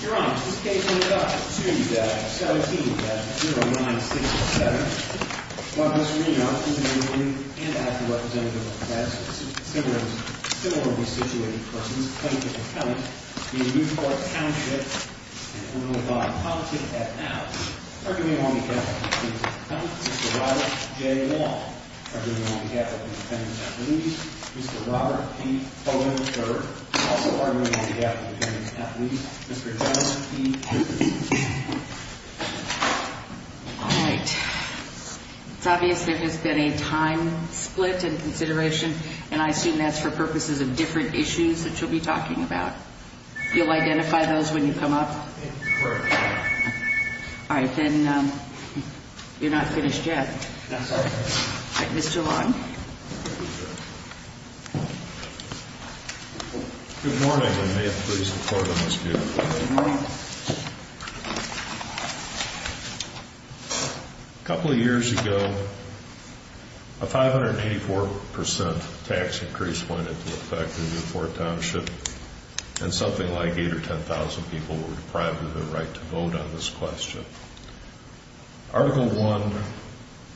Your Honor, this case ended up in 2017 at 09607 while Mr. Reno, who is a member and active representative of the class of similarly situated persons, plaintiff and count, v. Newport Township, and a little-known politician at now, are giving on behalf of the plaintiff and count, Mr. Robert J. Long are giving on behalf of the defendant at least, Mr. Robert P. Hogan III, and also are giving on behalf of the defendant at least, Mr. John P. Higgins. Good morning, and may it please the court on this beautiful day. A couple of years ago, a 584% tax increase went into effect in Newport Township, and something like 8,000 or 10,000 people were deprived of their right to vote on this question. Article 1,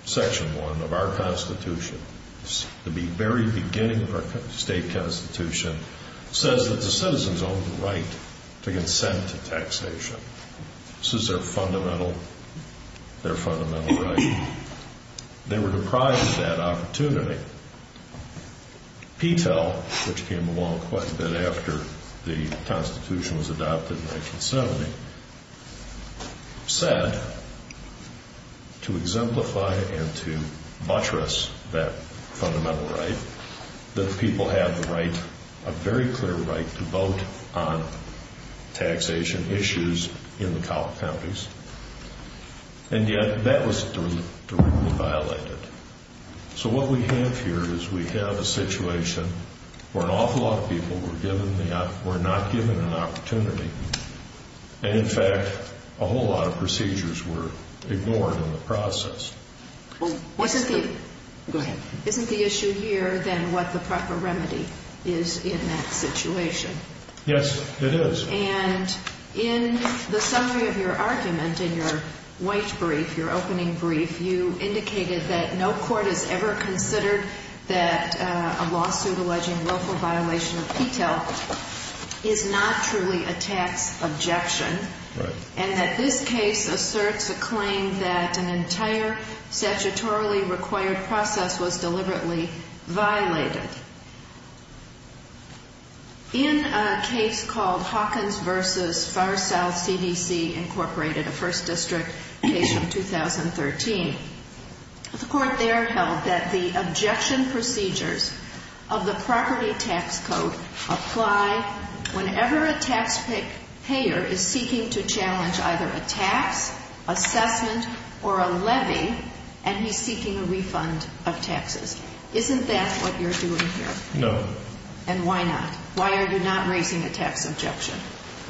Section 1 of our Constitution, the very beginning of our state constitution, says that the citizens own the right to consent to taxation. This is their fundamental right. They were deprived of that opportunity. Petel, which came along quite a bit after the Constitution was adopted in 1970, said, to exemplify and to buttress that fundamental right, that people have the right, a very clear right, to vote on taxation issues in the counties, and yet that was directly violated. So what we have here is we have a situation where an awful lot of people were not given an opportunity, and in fact, a whole lot of procedures were ignored in the process. Isn't the issue here then what the proper remedy is in that situation? Yes, it is. And in the summary of your argument, in your white brief, your opening brief, you indicated that no court has ever considered that a lawsuit alleging willful violation of Petel is not truly a tax objection. Right. And that this case asserts a claim that an entire statutorily required process was deliberately violated. In a case called Hawkins v. Far South CDC, Incorporated, a first district case from 2013, the court there held that the objection procedures of the property tax code apply whenever a tax payer is seeking to challenge either a tax, assessment, or a levy, and he's seeking a refund of taxes. Isn't that what you're doing? No. And why not? Why are you not raising a tax objection?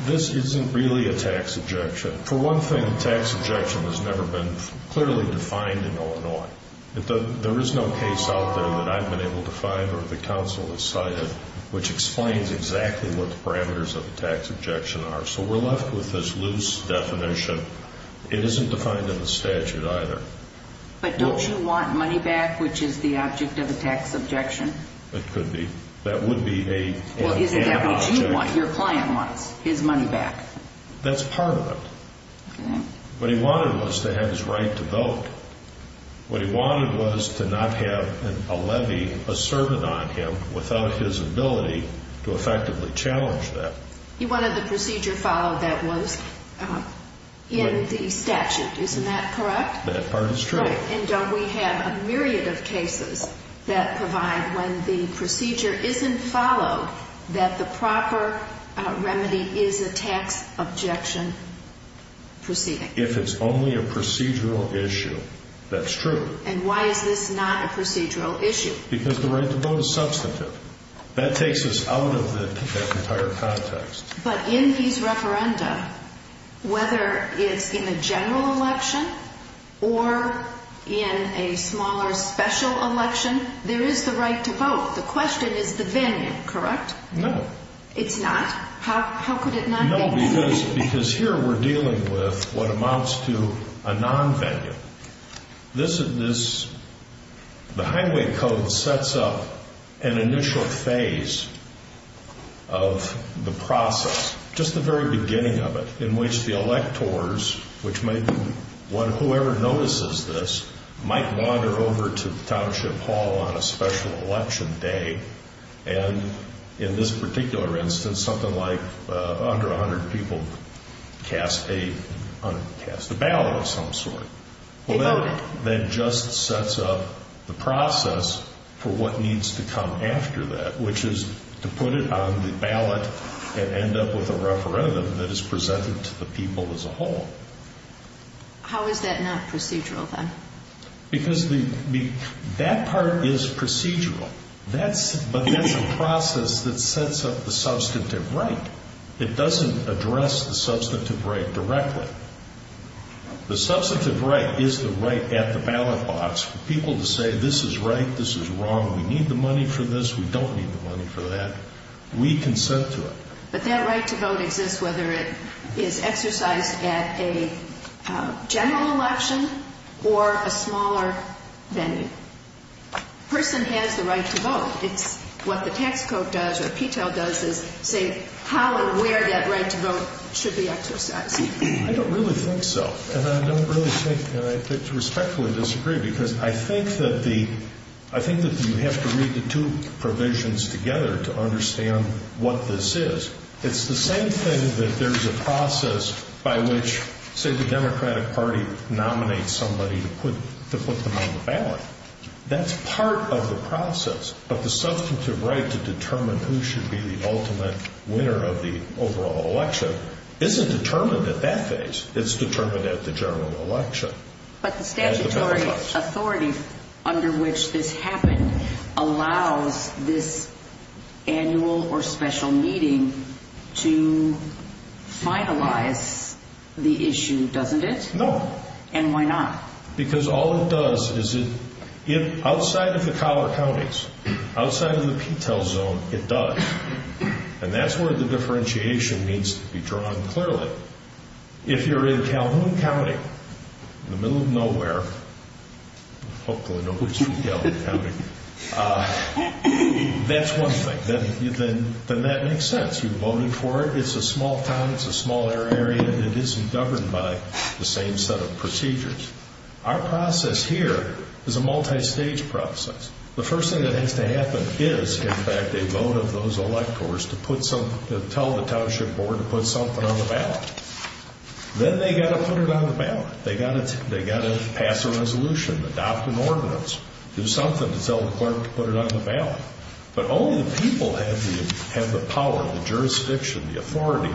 This isn't really a tax objection. For one thing, tax objection has never been clearly defined in Illinois. There is no case out there that I've been able to find or the counsel has cited which explains exactly what the parameters of a tax objection are. So we're left with this loose definition. It isn't defined in the statute either. But don't you want money back, which is the object of a tax objection? It could be. That would be an object. Well, isn't that what you want, your client wants, his money back? That's part of it. Okay. What he wanted was to have his right to vote. What he wanted was to not have a levy asserted on him without his ability to effectively challenge that. He wanted the procedure followed that was in the statute. Isn't that correct? That part is true. Right. And don't we have a myriad of cases that provide when the procedure isn't followed that the proper remedy is a tax objection proceeding? If it's only a procedural issue, that's true. And why is this not a procedural issue? Because the right to vote is substantive. That takes us out of that entire context. But in his referenda, whether it's in a general election or in a smaller special election, there is the right to vote. The question is the venue, correct? No. It's not? How could it not be? No, because here we're dealing with what amounts to a nonvenue. The Highway Code sets up an initial phase of the process, just the very beginning of it, in which the electors, whoever notices this, might wander over to Township Hall on a special election day. And in this particular instance, something like under 100 people cast a ballot of some sort. They voted. That just sets up the process for what needs to come after that, which is to put it on the ballot and end up with a referendum that is presented to the people as a whole. How is that not procedural, then? Because that part is procedural, but that's a process that sets up the substantive right. It doesn't address the substantive right directly. The substantive right is the right at the ballot box for people to say, this is right, this is wrong, we need the money for this, we don't need the money for that. We consent to it. But that right to vote exists whether it is exercised at a general election or a smaller venue. A person has the right to vote. It's what the tax code does or PTEL does is say how and where that right to vote should be exercised. I don't really think so, and I don't really think, and I respectfully disagree, because I think that you have to read the two provisions together to understand what this is. It's the same thing that there's a process by which, say, the Democratic Party nominates somebody to put them on the ballot. That's part of the process. But the substantive right to determine who should be the ultimate winner of the overall election isn't determined at that phase. It's determined at the general election. But the statutory authority under which this happened allows this annual or special meeting to finalize the issue, doesn't it? No. And why not? Because all it does is it, outside of the collar counties, outside of the PTEL zone, it does. And that's where the differentiation needs to be drawn clearly. But if you're in Calhoun County, in the middle of nowhere, hopefully nobody's from Calhoun County, that's one thing. Then that makes sense. You're voting for it. It's a small town. It's a small area. And it isn't governed by the same set of procedures. Our process here is a multistage process. The first thing that has to happen is, in fact, they vote of those electors to tell the township board to put something on the ballot. Then they've got to put it on the ballot. They've got to pass a resolution, adopt an ordinance, do something to tell the clerk to put it on the ballot. But only the people have the power, the jurisdiction, the authority,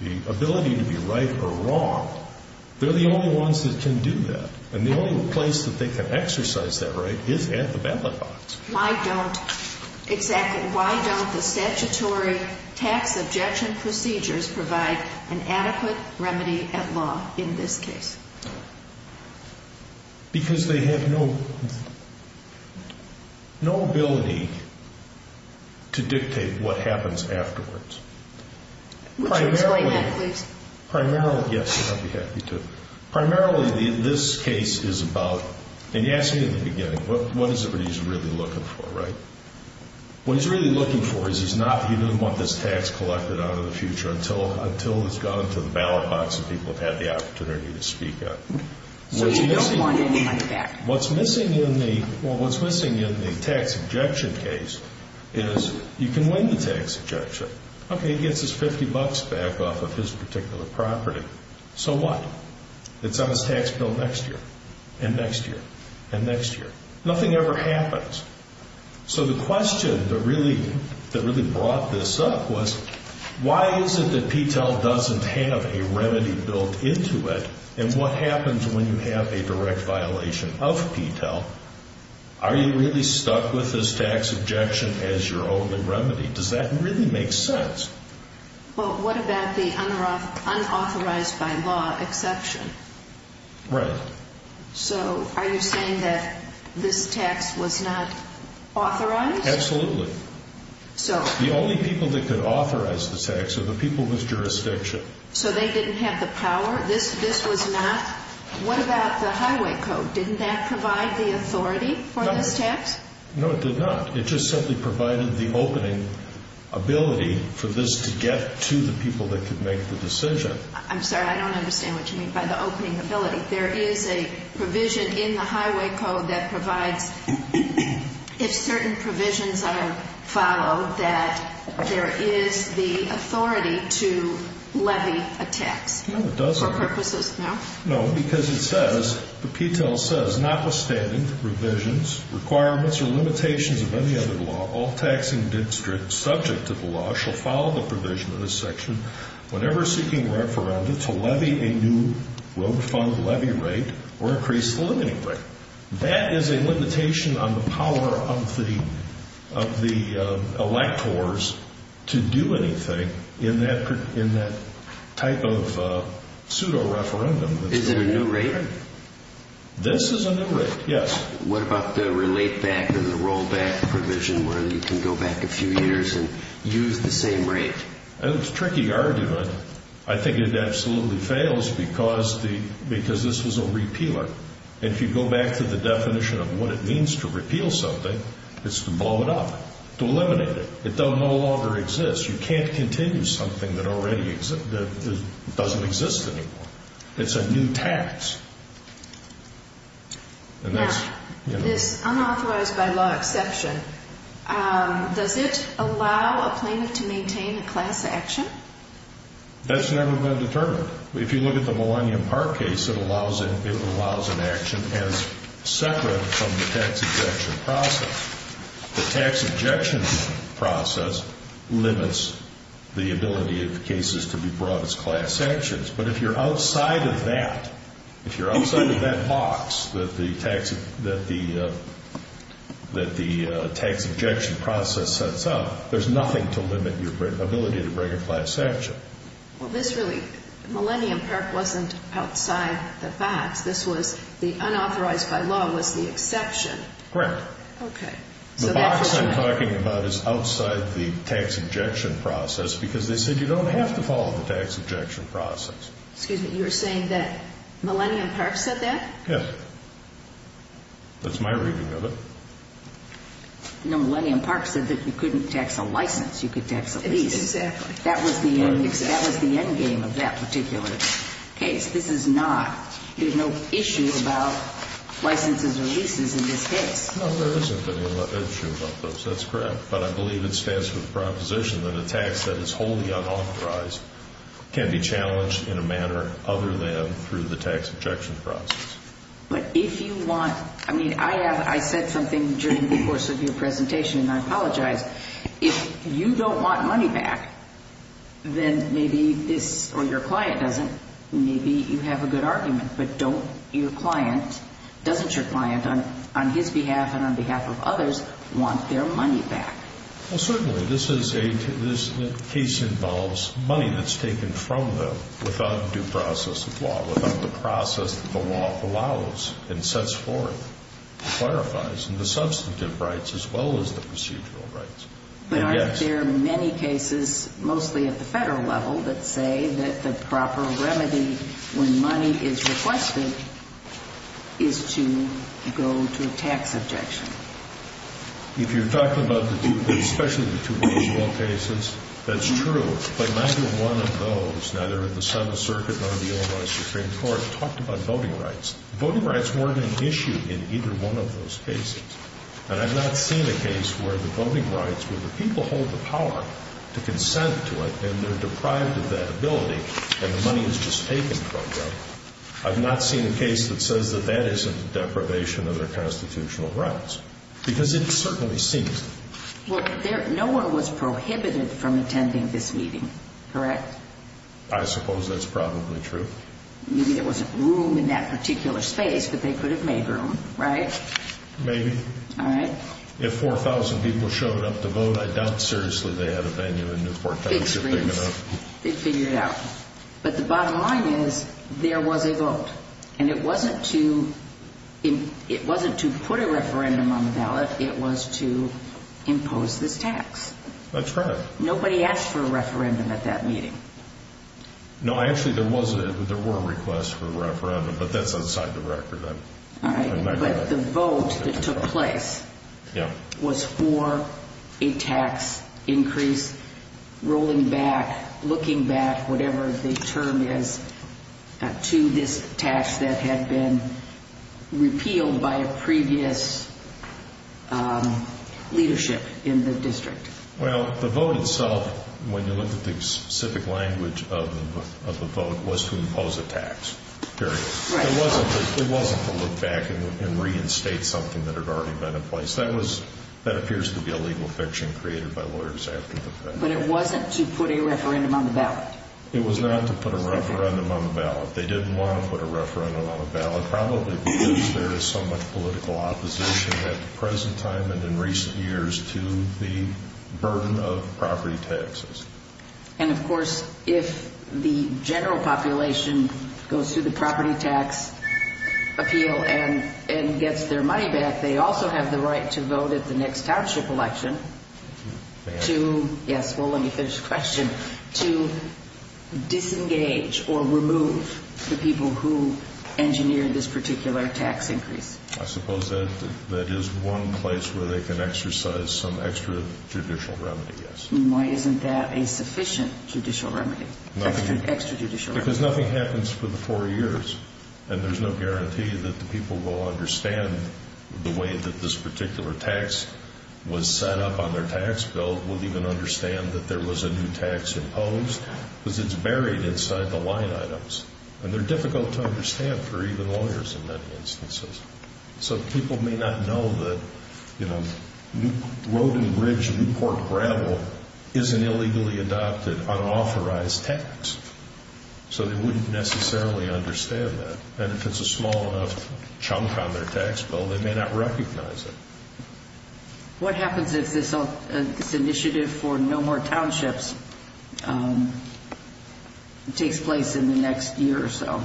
the ability to be right or wrong. They're the only ones that can do that. And the only place that they can exercise that right is at the ballot box. Why don't the statutory tax objection procedures provide an adequate remedy at law in this case? Because they have no ability to dictate what happens afterwards. Would you explain that, please? Primarily, yes, I'd be happy to. Primarily, this case is about, and you asked me in the beginning, what is it that he's really looking for, right? What he's really looking for is he doesn't want this tax collected out of the future until it's gone to the ballot box and people have had the opportunity to speak up. So you don't want any money back? What's missing in the tax objection case is you can win the tax objection. Okay, he gets his 50 bucks back off of his particular property. So what? It's on his tax bill next year and next year and next year. Nothing ever happens. So the question that really brought this up was, why is it that PTEL doesn't have a remedy built into it? And what happens when you have a direct violation of PTEL? Are you really stuck with this tax objection as your only remedy? Does that really make sense? Well, what about the unauthorized by law exception? Right. So are you saying that this tax was not authorized? Absolutely. The only people that could authorize the tax are the people with jurisdiction. So they didn't have the power? This was not? What about the highway code? Didn't that provide the authority for this tax? No, it did not. It just simply provided the opening ability for this to get to the people that could make the decision. I'm sorry, I don't understand what you mean by the opening ability. There is a provision in the highway code that provides, if certain provisions are followed, that there is the authority to levy a tax. No, it doesn't. For purposes, no? No, because it says, the PTEL says, notwithstanding revisions, requirements, or limitations of any other law, all taxing districts subject to the law shall follow the provision in this section whenever seeking referenda to levy a new road fund levy rate or increase the limiting rate. That is a limitation on the power of the electors to do anything in that type of pseudo-referendum. Is it a new rate? This is a new rate, yes. What about the relate-back or the roll-back provision where you can go back a few years and use the same rate? That's a tricky argument. I think it absolutely fails because this was a repealer. If you go back to the definition of what it means to repeal something, it's to blow it up, to eliminate it. It no longer exists. You can't continue something that doesn't exist anymore. It's a new tax. Now, this unauthorized by law exception, does it allow a plaintiff to maintain a class action? That's never been determined. However, if you look at the Millennium Park case, it allows an action as separate from the tax ejection process. The tax ejection process limits the ability of cases to be brought as class actions. But if you're outside of that, if you're outside of that box that the tax ejection process sets up, there's nothing to limit your ability to bring a class action. Okay. Well, this really, Millennium Park wasn't outside the box. This was the unauthorized by law was the exception. Correct. Okay. The box I'm talking about is outside the tax ejection process because they said you don't have to follow the tax ejection process. Excuse me. You're saying that Millennium Park said that? Yes. That's my reading of it. No, Millennium Park said that you couldn't tax a license. You could tax a lease. Exactly. That was the end game of that particular case. This is not, there's no issue about licenses or leases in this case. No, there isn't any issue about those. That's correct. But I believe it stands for the proposition that a tax that is wholly unauthorized can be challenged in a manner other than through the tax ejection process. But if you want, I mean, I have, I said something during the course of your presentation, and I apologize. If you don't want money back, then maybe this, or your client doesn't, maybe you have a good argument. But don't your client, doesn't your client on his behalf and on behalf of others want their money back? Well, certainly this is a, this case involves money that's taken from them without due process of law, without the process that the law allows and sets forth. It clarifies the substantive rights as well as the procedural rights. But aren't there many cases, mostly at the federal level, that say that the proper remedy when money is requested is to go to a tax ejection? If you're talking about the two, especially the two procedural cases, that's true. But neither one of those, neither at the Senate circuit nor the Illinois Supreme Court, talked about voting rights. Voting rights weren't an issue in either one of those cases. And I've not seen a case where the voting rights, where the people hold the power to consent to it and they're deprived of that ability and the money is just taken from them. I've not seen a case that says that that isn't deprivation of their constitutional rights. Because it certainly seems that. Well, there, no one was prohibited from attending this meeting. Correct? I suppose that's probably true. Maybe there wasn't room in that particular space, but they could have made room. Right? Maybe. All right. If 4,000 people showed up to vote, I doubt seriously they had a venue in Newport County to figure it out. Big screens. They'd figure it out. But the bottom line is, there was a vote. And it wasn't to put a referendum on the ballot. It was to impose this tax. That's right. Nobody asked for a referendum at that meeting. No, actually, there were requests for a referendum, but that's outside the record. All right. But the vote that took place was for a tax increase, rolling back, looking back, whatever the term is, to this tax that had been repealed by a previous leadership in the district. Well, the vote itself, when you look at the specific language of the vote, was to impose a tax, period. Right. It wasn't to look back and reinstate something that had already been in place. That appears to be a legal fiction created by lawyers after the fact. But it wasn't to put a referendum on the ballot. It was not to put a referendum on the ballot. They didn't want to put a referendum on the ballot, probably because there is so much political opposition at the present time and in recent years to the burden of property taxes. And, of course, if the general population goes through the property tax appeal and gets their money back, they also have the right to vote at the next township election to, yes, well, let me finish the question, to disengage or remove the people who engineered this particular tax increase. I suppose that is one place where they can exercise some extra judicial remedy, yes. Why isn't that a sufficient judicial remedy, extra judicial remedy? Because nothing happens for the four years. And there is no guarantee that the people will understand the way that this particular tax was set up on their tax bill, will even understand that there was a new tax imposed because it is buried inside the line items. And they are difficult to understand for even lawyers in many instances. So people may not know that, you know, Roving Ridge Newport gravel isn't illegally adopted unauthorized tax. So they wouldn't necessarily understand that. And if it is a small enough chunk on their tax bill, they may not recognize it. What happens if this initiative for no more townships takes place in the next year or so?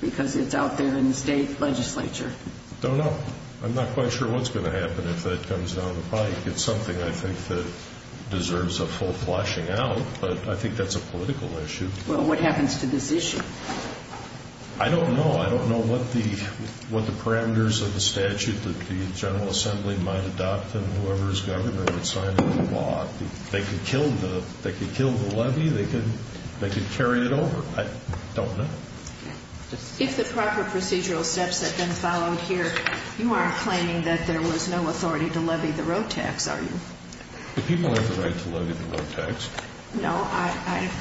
Because it is out there in the state legislature. I don't know. I am not quite sure what is going to happen if that comes down the pike. It is something I think that deserves a full flushing out. But I think that is a political issue. Well, what happens to this issue? I don't know. I don't know what the parameters of the statute that the General Assembly might adopt and whoever is governor would sign the law. They could kill the levy. They could carry it over. I don't know. If the proper procedural steps had been followed here, you aren't claiming that there was no authority to levy the road tax, are you? The people have the right to levy the road tax. No,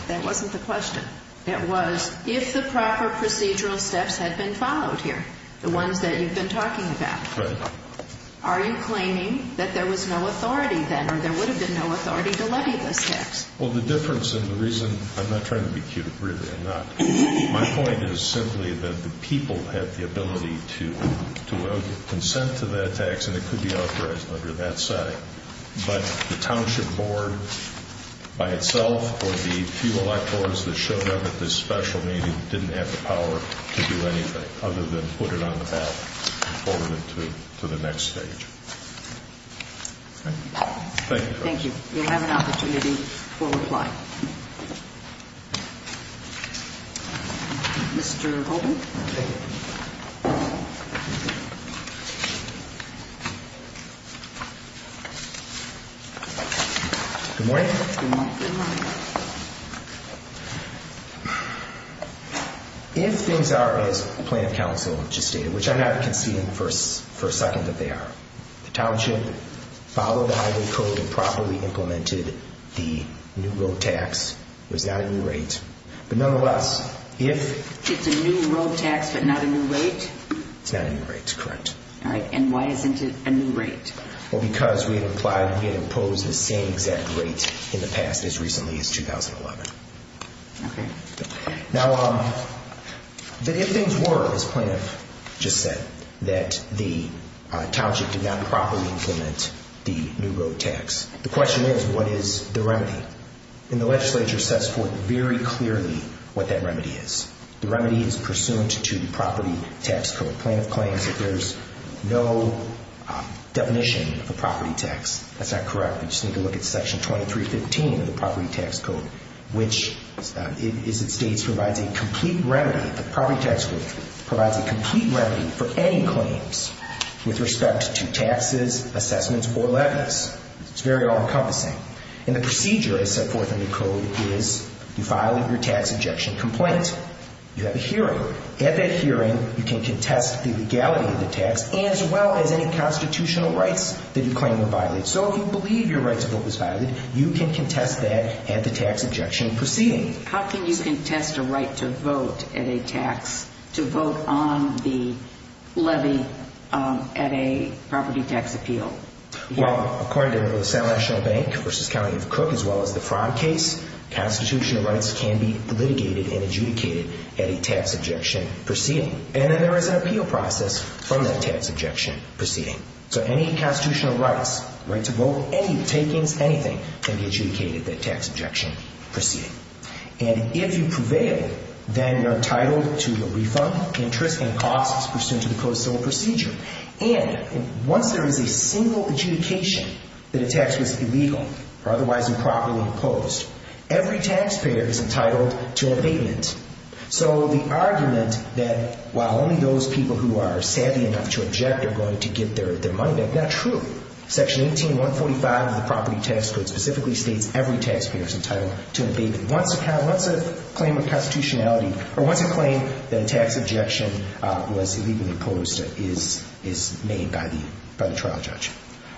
that wasn't the question. It was if the proper procedural steps had been followed here, the ones that you have been talking about. Right. Are you claiming that there was no authority then or there would have been no authority to levy this tax? Well, the difference and the reason, I'm not trying to be cute, really. I'm not. My point is simply that the people have the ability to consent to the tax, and it could be authorized under that setting. But the township board by itself or the few electors that showed up at this special meeting didn't have the power to do anything other than put it on the ballot and forward it to the next stage. Thank you. Thank you. If you have an opportunity, we'll reply. Mr. Holden. Thank you. Good morning. Good morning. If things are, as the plaintiff counsel just stated, which I haven't conceded for a second that they are, the township followed the highway code and properly implemented the new road tax. It was not a new rate. But nonetheless, if... It's a new road tax but not a new rate? It's not a new rate. Correct. All right. And why isn't it a new rate? Well, because we had imposed the same exact rate in the past as recently as 2011. Okay. Now, if things were, as plaintiff just said, that the township did not properly implement the new road tax, the question is, what is the remedy? And the legislature sets forth very clearly what that remedy is. The remedy is pursuant to the property tax code. Plaintiff claims that there's no definition of a property tax. That's not correct. You just need to look at Section 2315 of the property tax code, which is it states provides a complete remedy. The property tax code provides a complete remedy for any claims with respect to taxes, assessments, or levies. It's very all-encompassing. And the procedure is set forth in the code is you file your tax ejection complaint. You have a hearing. At that hearing, you can contest the legality of the tax as well as any constitutional rights that you claim to violate. So if you believe your right to vote was violated, you can contest that at the tax ejection proceeding. How can you contest a right to vote at a tax, to vote on the levy at a property tax appeal? Well, according to the South National Bank v. County of Cook, as well as the fraud case, constitutional rights can be litigated and adjudicated at a tax ejection proceeding. And then there is an appeal process from that tax ejection proceeding. So any constitutional rights, right to vote, any takings, anything can be adjudicated at a tax ejection proceeding. And if you prevail, then you're entitled to your refund, interest, and costs pursuant to the Code of Civil Procedure. And once there is a single adjudication that a tax was illegal or otherwise improperly imposed, every taxpayer is entitled to an abatement. So the argument that while only those people who are savvy enough to eject are going to get their money back, that's true. Section 18.145 of the Property Tax Code specifically states every taxpayer is entitled to an abatement. Once a claim of constitutionality or once a claim that a tax ejection was illegally imposed is made by the trial judge.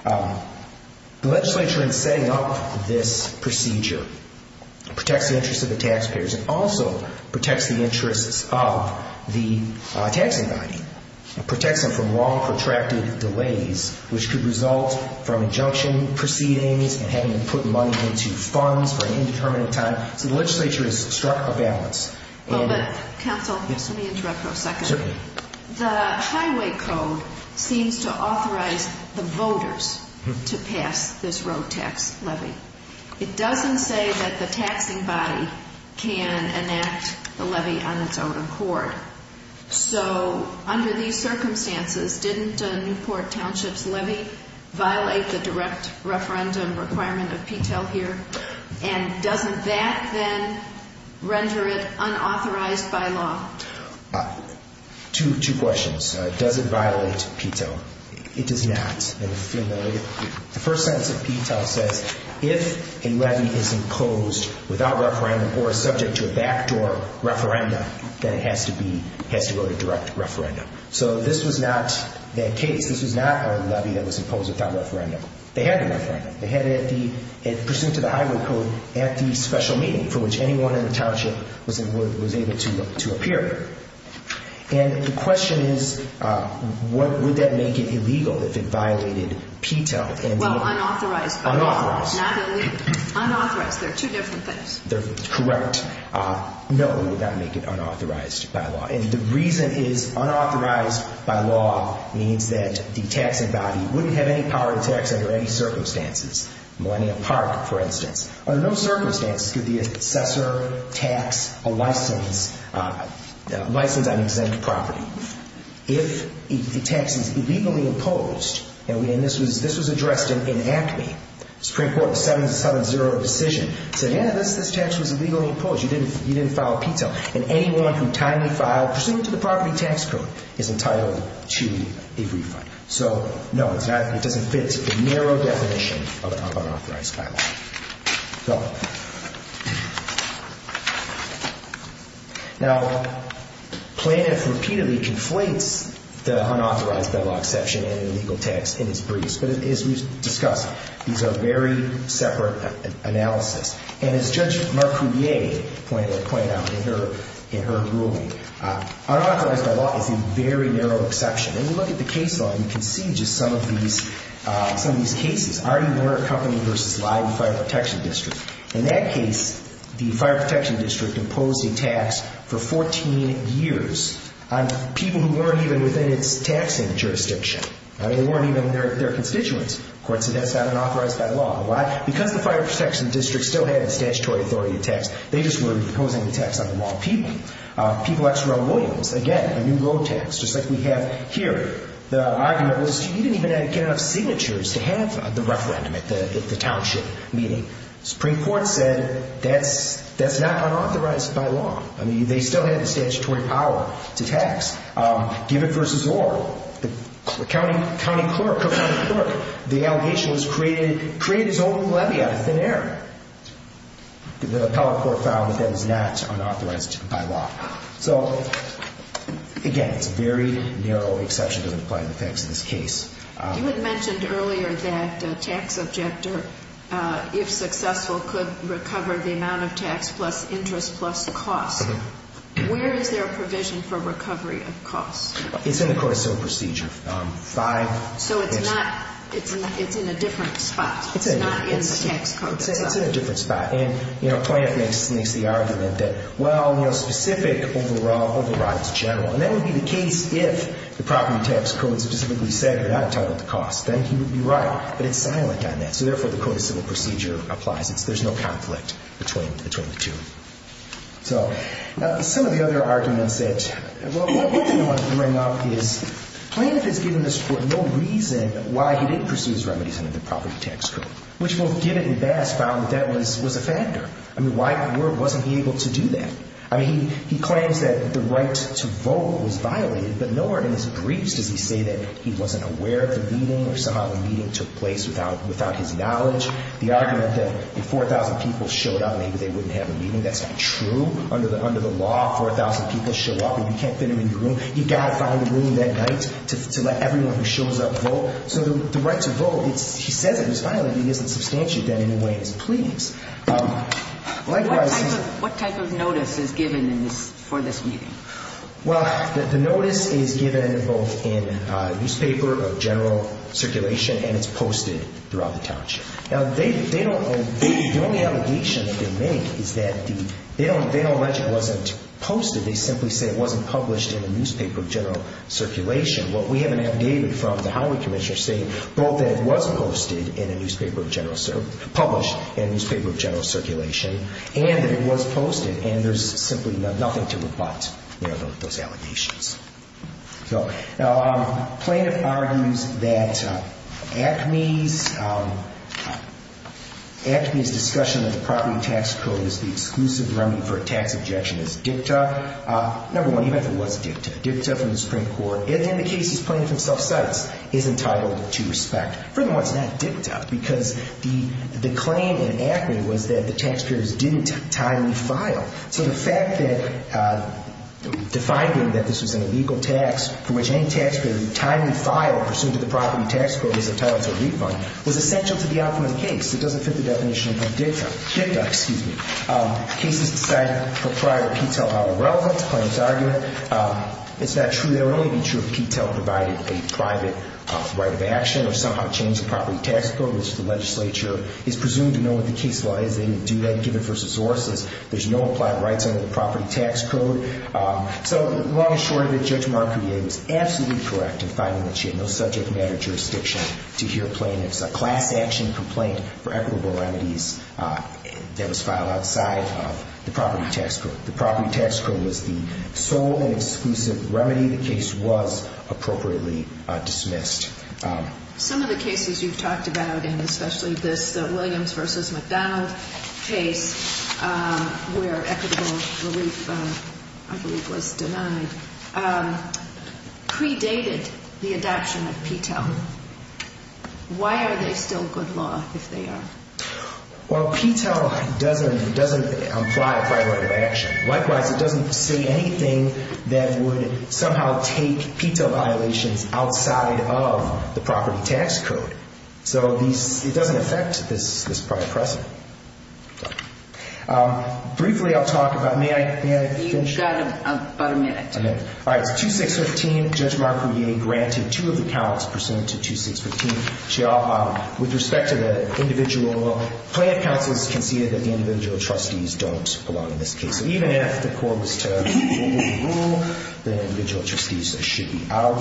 The legislature in setting up this procedure protects the interests of the taxpayers and also protects the interests of the taxing body. It protects them from long protracted delays which could result from injunction proceedings and having them put money into funds for an indeterminate time. So the legislature has struck a balance. But counsel, just let me interrupt for a second. Certainly. The Highway Code seems to authorize the voters to pass this road tax levy. It doesn't say that the taxing body can enact the levy on its own accord. So under these circumstances, didn't Newport Township's levy violate the direct referendum requirement of PTEL here? And doesn't that then render it unauthorized by law? Two questions. Does it violate PTEL? It does not. The first sentence of PTEL says, if a levy is imposed without referendum or is subject to a backdoor referendum, then it has to go to direct referendum. So this was not that case. This was not a levy that was imposed without referendum. They had a referendum. They presented the Highway Code at the special meeting for which anyone in the township was able to appear. And the question is, would that make it illegal if it violated PTEL? Well, unauthorized by law. Unauthorized. Not illegal. Unauthorized. They're two different things. Correct. No, it would not make it unauthorized by law. And the reason is, unauthorized by law means that the taxing body wouldn't have any power to tax under any circumstances. Millennial Park, for instance. Under no circumstances could the assessor tax a license on exempt property. If the tax is illegally imposed, and this was addressed in ACME, Supreme Court 770 decision, said, yeah, this tax was illegally imposed. You didn't file PTEL. And anyone who timely filed, pursuant to the property tax code, is entitled to a refund. So, no, it doesn't fit the narrow definition of unauthorized by law. Now, Plaintiff repeatedly conflates the unauthorized by law exception and illegal tax in his briefs. But as we've discussed, these are very separate analysis. And as Judge Marcoulier pointed out in her ruling, unauthorized by law is a very narrow exception. And when you look at the case law, you can see just some of these cases. R.E. Warner Company v. Live Fire Protection District. In that case, the Fire Protection District imposed a tax for 14 years on people who weren't even within its taxing jurisdiction. They weren't even their constituents. Of course, that's not unauthorized by law. Because the Fire Protection District still had a statutory authority to tax, they just were imposing the tax on the wrong people. People X Row Williams, again, a new road tax, just like we have here. The argument was you didn't even get enough signatures to have the referendum at the township meeting. Supreme Court said that's not unauthorized by law. I mean, they still had the statutory power to tax. Given v. Orr, the county clerk, the allegation was created, created his own levy out of thin air. The appellate court found that that is not unauthorized by law. So, again, it's a very narrow exception to the implied effects of this case. You had mentioned earlier that a tax objector, if successful, could recover the amount of tax plus interest plus cost. Where is there a provision for recovery of cost? It's in the court of civil procedure. So it's not, it's in a different spot. It's not in the tax code. It's in a different spot. And, you know, Plante makes the argument that, well, you know, specific overrides general. And that would be the case if the property tax code specifically said you're not entitled to cost. Then he would be right. But it's silent on that. So, therefore, the court of civil procedure applies. There's no conflict between the two. So some of the other arguments that, well, one thing I want to bring up is Plante has given this court no reason why he didn't pursue his remedies under the property tax code. Which both Gibbon and Bass found that that was a factor. I mean, why wasn't he able to do that? I mean, he claims that the right to vote was violated. But nowhere in his briefs does he say that he wasn't aware of the meeting or somehow the meeting took place without his knowledge. The argument that if 4,000 people showed up, maybe they wouldn't have a meeting, that's not true. Under the law, 4,000 people show up. And you can't fit them in your room. You've got to find a room that night to let everyone who shows up vote. So the right to vote, he says it was violated. He doesn't substantiate that in any way. It's a plea. What type of notice is given for this meeting? Well, the notice is given both in a newspaper of general circulation and it's posted throughout the township. Now, they don't, the only allegation that they make is that the, they don't, they don't allege it wasn't posted. They simply say it wasn't published in a newspaper of general circulation. What we have an affidavit from the Highway Commissioner saying both that it was posted in a newspaper of general, published in a newspaper of general circulation, and that it was posted, and there's simply nothing to rebut those allegations. So, now, plaintiff argues that ACME's, ACME's discussion of the property tax code is the exclusive remedy for a tax objection. It's dicta. Number one, even if it was dicta, dicta from the Supreme Court, in the cases plaintiff himself cites, is entitled to respect. Furthermore, it's not dicta because the claim in ACME was that the taxpayers didn't timely file. So the fact that defining that this was an illegal tax for which any taxpayer timely filed pursuant to the property tax code is entitled to a refund was essential to the outcome of the case. It doesn't fit the definition of a dicta. Dicta, excuse me. Cases decided prior to Petel are irrelevant, plaintiff's argument. It's not true. It would only be true if Petel provided a private right of action or somehow changed the property tax code, which the legislature is presumed to know what the case law is. They didn't do that given first resources. There's no applied rights under the property tax code. So long and short of it, Judge Marcudia was absolutely correct in finding that she had no subject matter jurisdiction to hear plaintiffs. A class action complaint for equitable remedies that was filed outside of the property tax code. The property tax code was the sole and exclusive remedy. The case was appropriately dismissed. Some of the cases you've talked about, and especially this Williams versus McDonald case where equitable relief, I believe, was denied, predated the adoption of Petel. Why are they still good law if they are? Well, Petel doesn't apply a private right of action. Likewise, it doesn't say anything that would somehow take Petel violations outside of the property tax code. So it doesn't affect this private precedent. Briefly, I'll talk about, may I finish? You've got about a minute. All right. So as far as 2615, Judge Marcudia granted two of the counts pursuant to 2615. With respect to the individual, plaintiff counsel has conceded that the individual trustees don't belong in this case. So even if the court was to rule, the individual trustees should be out.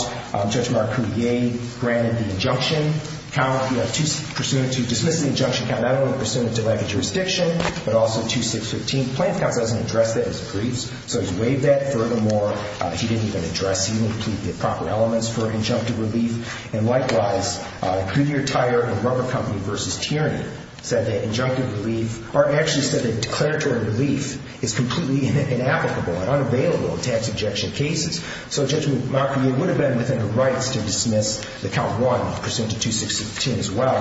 Judge Marcudia granted the injunction count, pursuant to dismissing the injunction count, not only pursuant to lack of jurisdiction, but also 2615. Plaintiff counsel hasn't addressed that in his briefs, so he's waived that. Furthermore, he didn't even address even the proper elements for injunctive relief. And likewise, Coulier, Tyer, and Rubber Company versus Tierney said that injunctive relief or actually said that declaratory relief is completely inapplicable and unavailable in tax objection cases. So Judge Marcudia would have been within the rights to dismiss the count 1, pursuant to 2615 as well.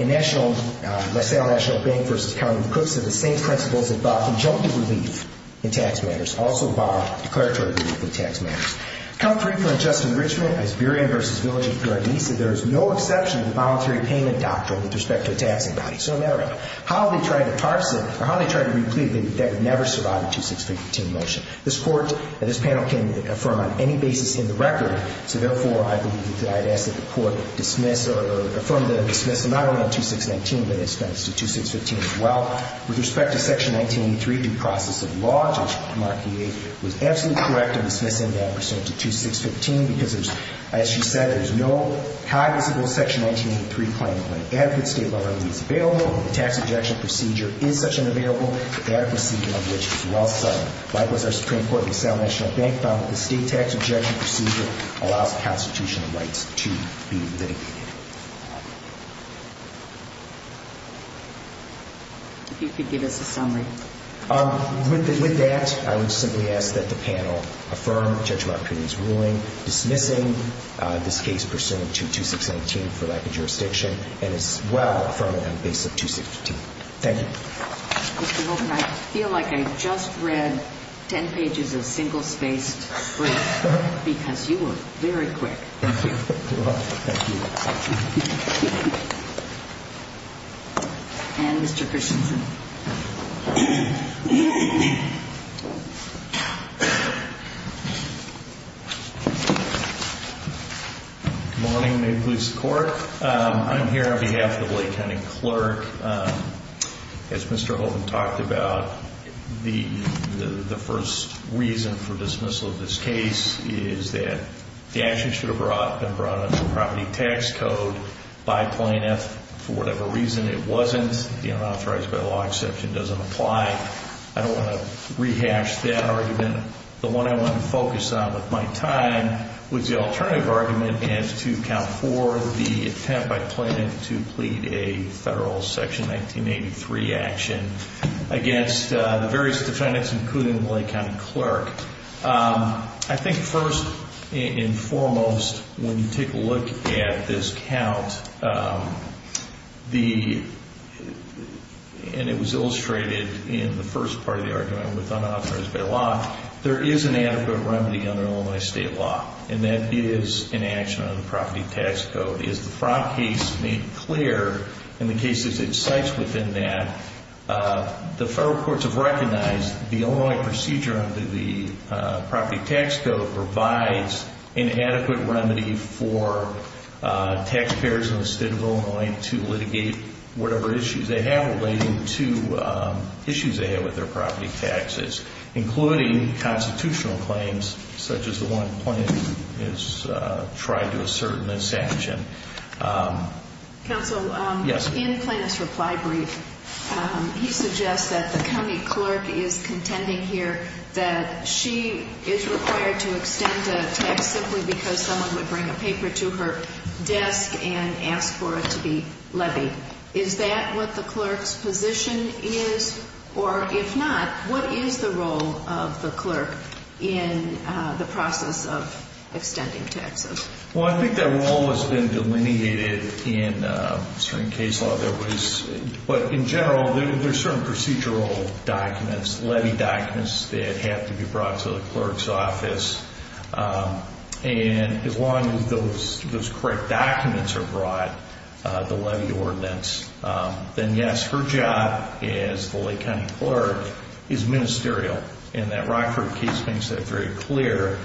And Nassau National Bank versus County of Cook said the same principles about injunctive relief in tax matters also bar declaratory relief in tax matters. Count 3 for unjust enrichment, Asburian versus Village of Gardesa, there is no exception to the voluntary payment doctrine with respect to a taxing body. So no matter how they try to parse it or how they try to replete it, that would never survive a 2615 motion. This Court and this panel can affirm on any basis in the record. So therefore, I believe that I'd ask that the Court dismiss or affirm the dismissal not only on 2619, but in expense to 2615 as well. With respect to Section 1983, due process of law, Judge Marcudia was absolutely correct in dismissing that pursuant to 2615 because there's, as she said, there's no high visible Section 1983 claim when adequate state law remedy is available, the tax objection procedure is such and available, that procedure of which is well set. Likewise, our Supreme Court in the Sal National Bank found that the state tax objection procedure allows constitutional rights to be litigated. If you could give us a summary. With that, I would simply ask that the panel affirm Judge Marcudia's ruling dismissing this case pursuant to 2619 for lack of jurisdiction and as well affirm it on the basis of 2615. Thank you. Mr. Hogan, I feel like I just read 10 pages of single-spaced brief because you were very quick. Thank you. Thank you. And Mr. Christensen. Good morning. May it please the Court. I'm here on behalf of the Lake County Clerk. As Mr. Hogan talked about, the first reason for dismissal of this case is that the action should have been brought under property tax code by plaintiff. For whatever reason, it wasn't. The unauthorized by law exception doesn't apply. I don't want to rehash that argument. The one I want to focus on with my time was the alternative argument as to count for the attempt by plaintiff to plead a federal Section 1983 action against the various defendants, including the Lake County Clerk. I think first and foremost, when you take a look at this count, and it was illustrated in the first part of the argument with unauthorized by law, there is an adequate remedy under Illinois state law. And that is an action under the property tax code. As the Frank case made clear in the cases it cites within that, the federal courts have recognized the Illinois procedure under the property tax code provides an adequate remedy for taxpayers in the state of Illinois to litigate whatever issues they have relating to issues they have with their property taxes, including constitutional claims, such as the one plaintiff has tried to assert in this action. Counsel, in Plaintiff's reply brief, he suggests that the county clerk is contending here that she is required to extend a tax simply because someone would bring a paper to her desk and ask for it to be levied. Is that what the clerk's position is? Or if not, what is the role of the clerk in the process of extending taxes? Well, I think that role has been delineated in certain case law. But in general, there are certain procedural documents, levy documents that have to be brought to the clerk's office. And as long as those correct documents are brought, the levy ordinance, then yes, her job as the Lake County clerk is ministerial. And that Rockford case makes that very clear.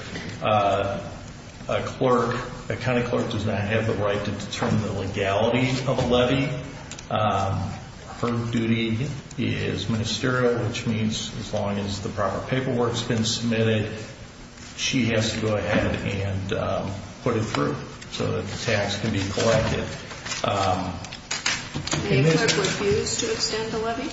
A clerk, a county clerk does not have the right to determine the legality of a levy. Her duty is ministerial, which means as long as the proper paperwork has been submitted. She has to go ahead and put it through so that the tax can be collected. The clerk refused to extend the levy?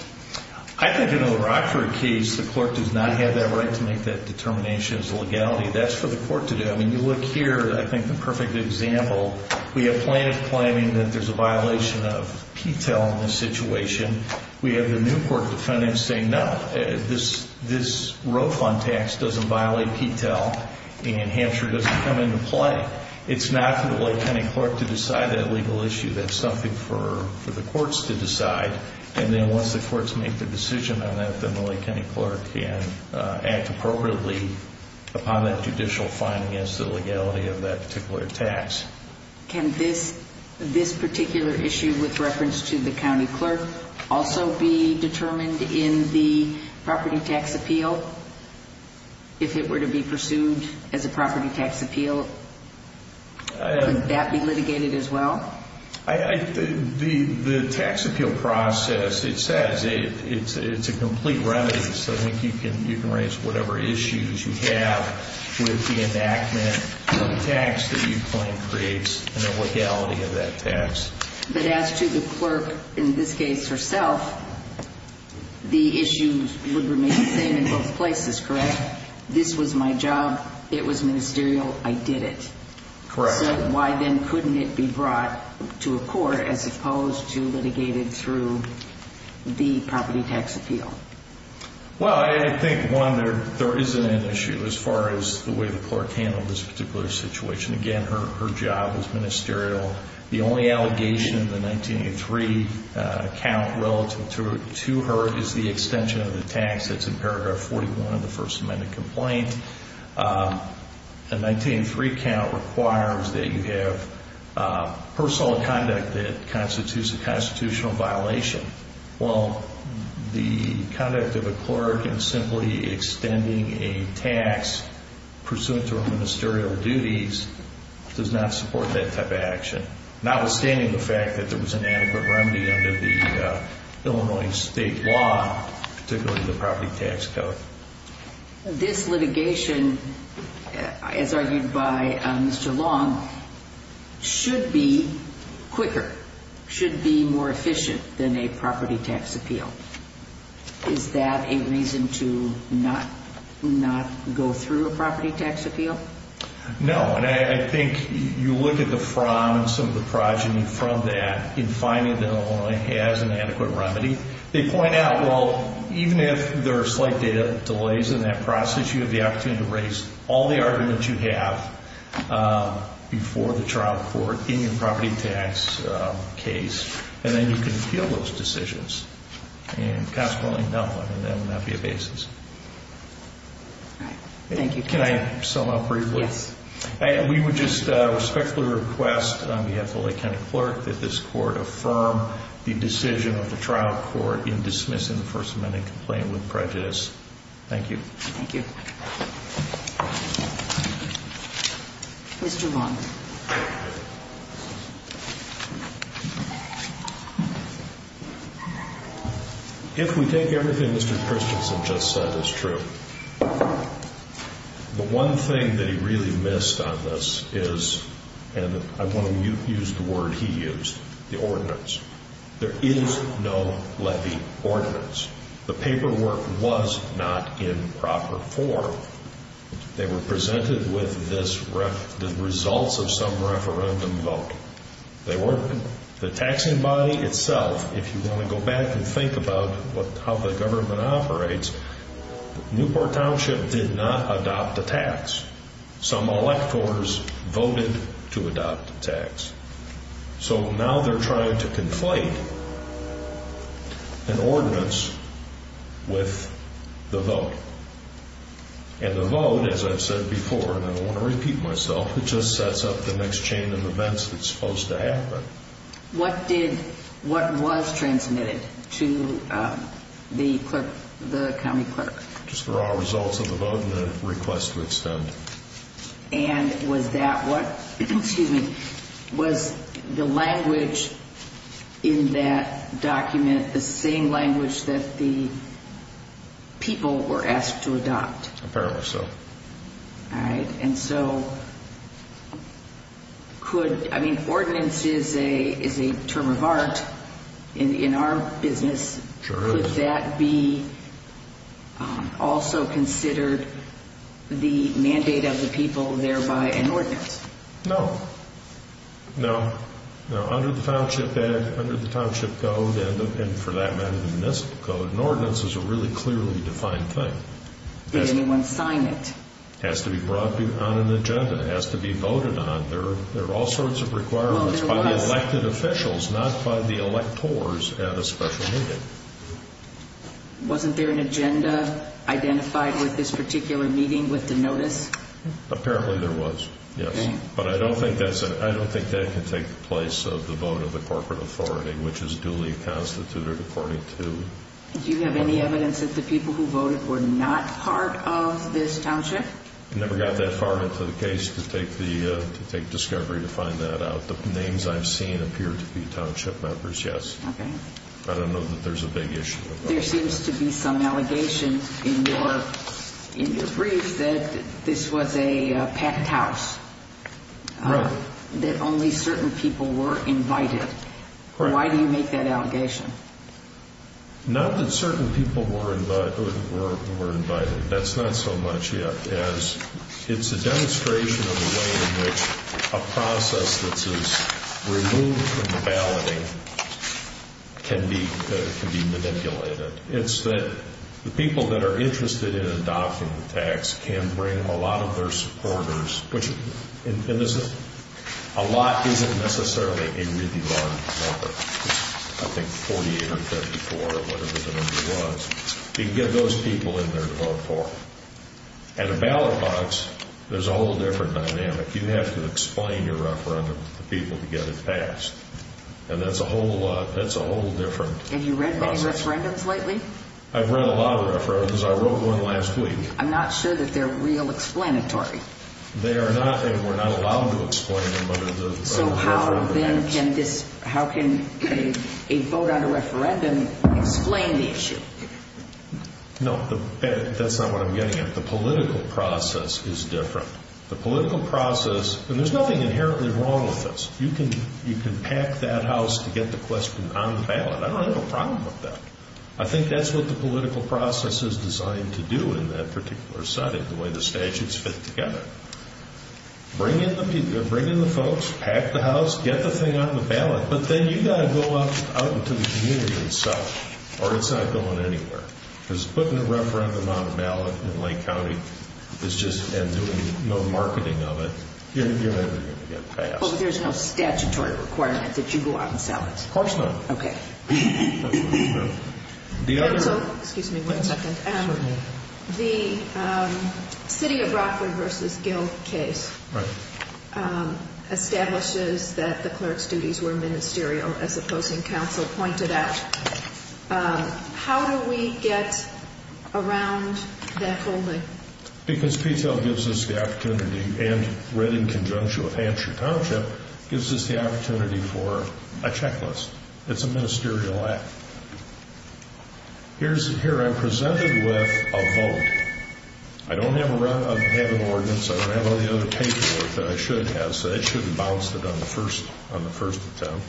I think in the Rockford case, the clerk does not have that right to make that determination as a legality. That's for the court to do. I mean, you look here. I think the perfect example, we have plaintiff claiming that there's a violation of P-TEL in this situation. We have the new court defendants saying, no, this row fund tax doesn't violate P-TEL, and Hampshire doesn't come into play. It's not for the Lake County clerk to decide that legal issue. That's something for the courts to decide. And then once the courts make the decision on that, then the Lake County clerk can act appropriately upon that judicial fine against the legality of that particular tax. Can this particular issue with reference to the county clerk also be determined in the property tax appeal? If it were to be pursued as a property tax appeal, would that be litigated as well? The tax appeal process, it says it's a complete remedy. So I think you can raise whatever issues you have with the enactment of the tax that you claim creates a legality of that tax. But as to the clerk in this case herself, the issues would remain the same in both places, correct? This was my job. It was ministerial. I did it. Correct. So why then couldn't it be brought to a court as opposed to litigated through the property tax appeal? Well, I think, one, there is an issue as far as the way the clerk handled this particular situation. Again, her job was ministerial. The only allegation in the 1983 count relative to her is the extension of the tax that's in paragraph 41 of the First Amendment complaint. The 1983 count requires that you have personal conduct that constitutes a constitutional violation. Well, the conduct of a clerk in simply extending a tax pursuant to her ministerial duties does not support that type of action, notwithstanding the fact that there was an adequate remedy under the Illinois state law, particularly the property tax code. This litigation, as argued by Mr. Long, should be quicker, should be more efficient than a property tax appeal. Is that a reason to not go through a property tax appeal? No, and I think you look at the from and some of the progeny from that in finding that Illinois has an adequate remedy. They point out, well, even if there are slight data delays in that process, you have the opportunity to raise all the arguments you have before the trial court in your property tax case, and then you can appeal those decisions and consequently, no, that would not be a basis. Thank you. Can I sum up briefly? Yes. We would just respectfully request on behalf of the Lake County clerk that this court affirm the decision of the trial court in dismissing the first amendment complaint with prejudice. Thank you. Thank you. Mr. Long. If we take everything Mr. Christensen just said as true, the one thing that he really missed on this is, and I want to use the word he used, the ordinance. There is no levy ordinance. The paperwork was not in proper form. They were presented with the results of some referendum vote. The taxing body itself, if you want to go back and think about how the government operates, Newport Township did not adopt a tax. Some electors voted to adopt a tax. So now they're trying to conflate an ordinance with the vote. And the vote, as I've said before, and I don't want to repeat myself, it just sets up the next chain of events that's supposed to happen. What did, what was transmitted to the clerk, the county clerk? Just the raw results of the vote and the request to extend. And was that what, excuse me, was the language in that document the same language that the people were asked to adopt? Apparently so. All right. And so could, I mean, ordinance is a term of art in our business. Sure is. Could that be also considered the mandate of the people, thereby an ordinance? No. No. Under the Township Act, under the Township Code, and for that matter, the municipal code, an ordinance is a really clearly defined thing. Did anyone sign it? It has to be brought on an agenda. It has to be voted on. There are all sorts of requirements by the elected officials, not by the electors at a special meeting. Wasn't there an agenda identified with this particular meeting with the notice? Apparently there was, yes. But I don't think that's, I don't think that can take the place of the vote of the corporate authority, which is duly constituted according to. Do you have any evidence that the people who voted were not part of this township? Never got that far into the case to take the, to take discovery to find that out. The names I've seen appear to be township members, yes. Okay. I don't know that there's a big issue with that. There seems to be some allegation in your brief that this was a packed house. Right. That only certain people were invited. Right. Why do you make that allegation? Not that certain people were invited. That's not so much it as it's a demonstration of the way in which a process that is removed from the balloting can be manipulated. It's that the people that are interested in adopting the tax can bring a lot of their supporters, which a lot isn't necessarily a really large number. I think 48 or 34 or whatever the number was. You can get those people in there to vote for. At a ballot box, there's a whole different dynamic. You have to explain your referendum to people to get it passed. And that's a whole lot, that's a whole different process. Have you read any referendums lately? I've read a lot of referendums. I wrote one last week. I'm not sure that they're real explanatory. They are not, and we're not allowed to explain them under the referendum. So how then can this, how can a vote on a referendum explain the issue? No, that's not what I'm getting at. The political process is different. The political process, and there's nothing inherently wrong with this. You can pack that house to get the question on the ballot. I don't have a problem with that. I think that's what the political process is designed to do in that particular setting, the way the statutes fit together. Bring in the folks, pack the house, get the thing on the ballot, but then you've got to go out into the community and sell it, or it's not going anywhere. Because putting a referendum on a ballot in Lake County and doing no marketing of it, you're never going to get it passed. But there's no statutory requirement that you go out and sell it? Of course not. Okay. The other... Counsel, excuse me one second. The City of Brockwood v. Gill case establishes that the clerk's duties were ministerial, as the opposing counsel pointed out. How do we get around that holding? Because Petel gives us the opportunity, and read in conjunction with Hampshire Township, gives us the opportunity for a checklist. It's a ministerial act. Here I'm presented with a vote. I don't have an ordinance. I don't have any other paperwork that I should have, so that should have bounced it on the first attempt.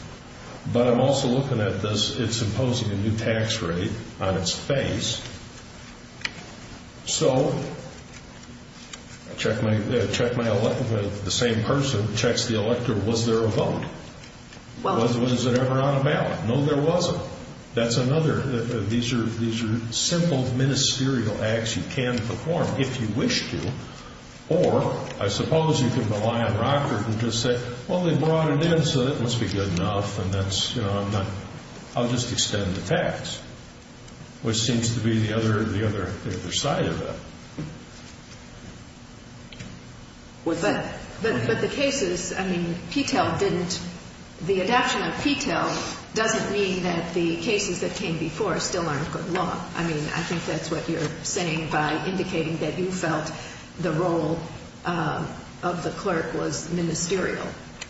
But I'm also looking at this, it's imposing a new tax rate on its face. So I check the same person, checks the electorate, was there a vote? Was it ever on a ballot? No, there wasn't. That's another. These are simple ministerial acts you can perform if you wish to. Or I suppose you can rely on Brockwood and just say, well, they brought it in, so it must be good enough, and that's, you know, I'll just extend the tax, which seems to be the other side of it. But the cases, I mean, Petel didn't, the adoption of Petel doesn't mean that the cases that came before still aren't good law. I mean, I think that's what you're saying by indicating that you felt the role of the clerk was ministerial.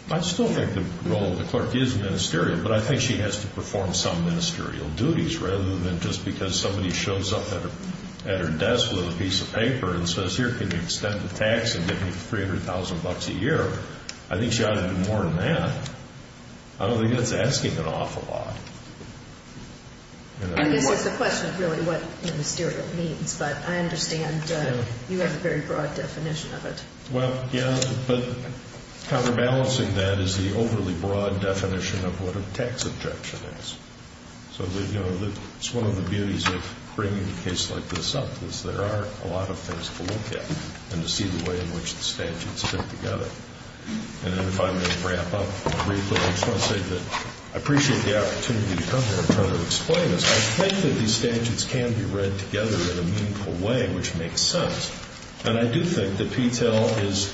I still think the role of the clerk is ministerial, but I think she has to perform some ministerial duties rather than just because somebody shows up at her desk with a piece of paper and says, here, can you extend the tax and give me $300,000 a year? I think she ought to do more than that. I don't think that's asking an awful lot. I guess it's a question of really what ministerial means, but I understand you have a very broad definition of it. Well, yeah, but counterbalancing that is the overly broad definition of what a tax objection is. So, you know, it's one of the beauties of bringing a case like this up is there are a lot of things to look at and to see the way in which the statutes fit together. And if I may wrap up briefly, I just want to say that I appreciate the opportunity to come here and try to explain this. I think that these statutes can be read together in a meaningful way, which makes sense. And I do think that Petel is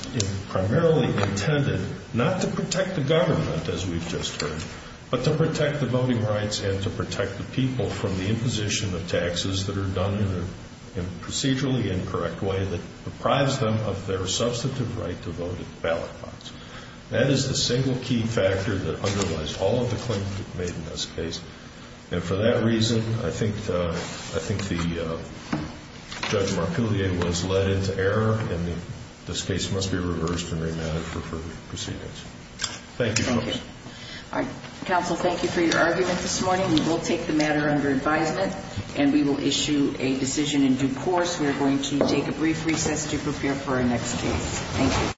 primarily intended not to protect the government, as we've just heard, but to protect the voting rights and to protect the people from the imposition of taxes that are done in a procedurally incorrect way that deprives them of their substantive right to vote at the ballot box. That is the single key factor that underlies all of the claims made in this case. And for that reason, I think the Judge Marpillier was led into error, and this case must be reversed and remanded for further proceedings. Thank you, folks. Thank you. All right. Counsel, thank you for your argument this morning. We will take the matter under advisement, and we will issue a decision in due course. We are going to take a brief recess to prepare for our next case. Thank you.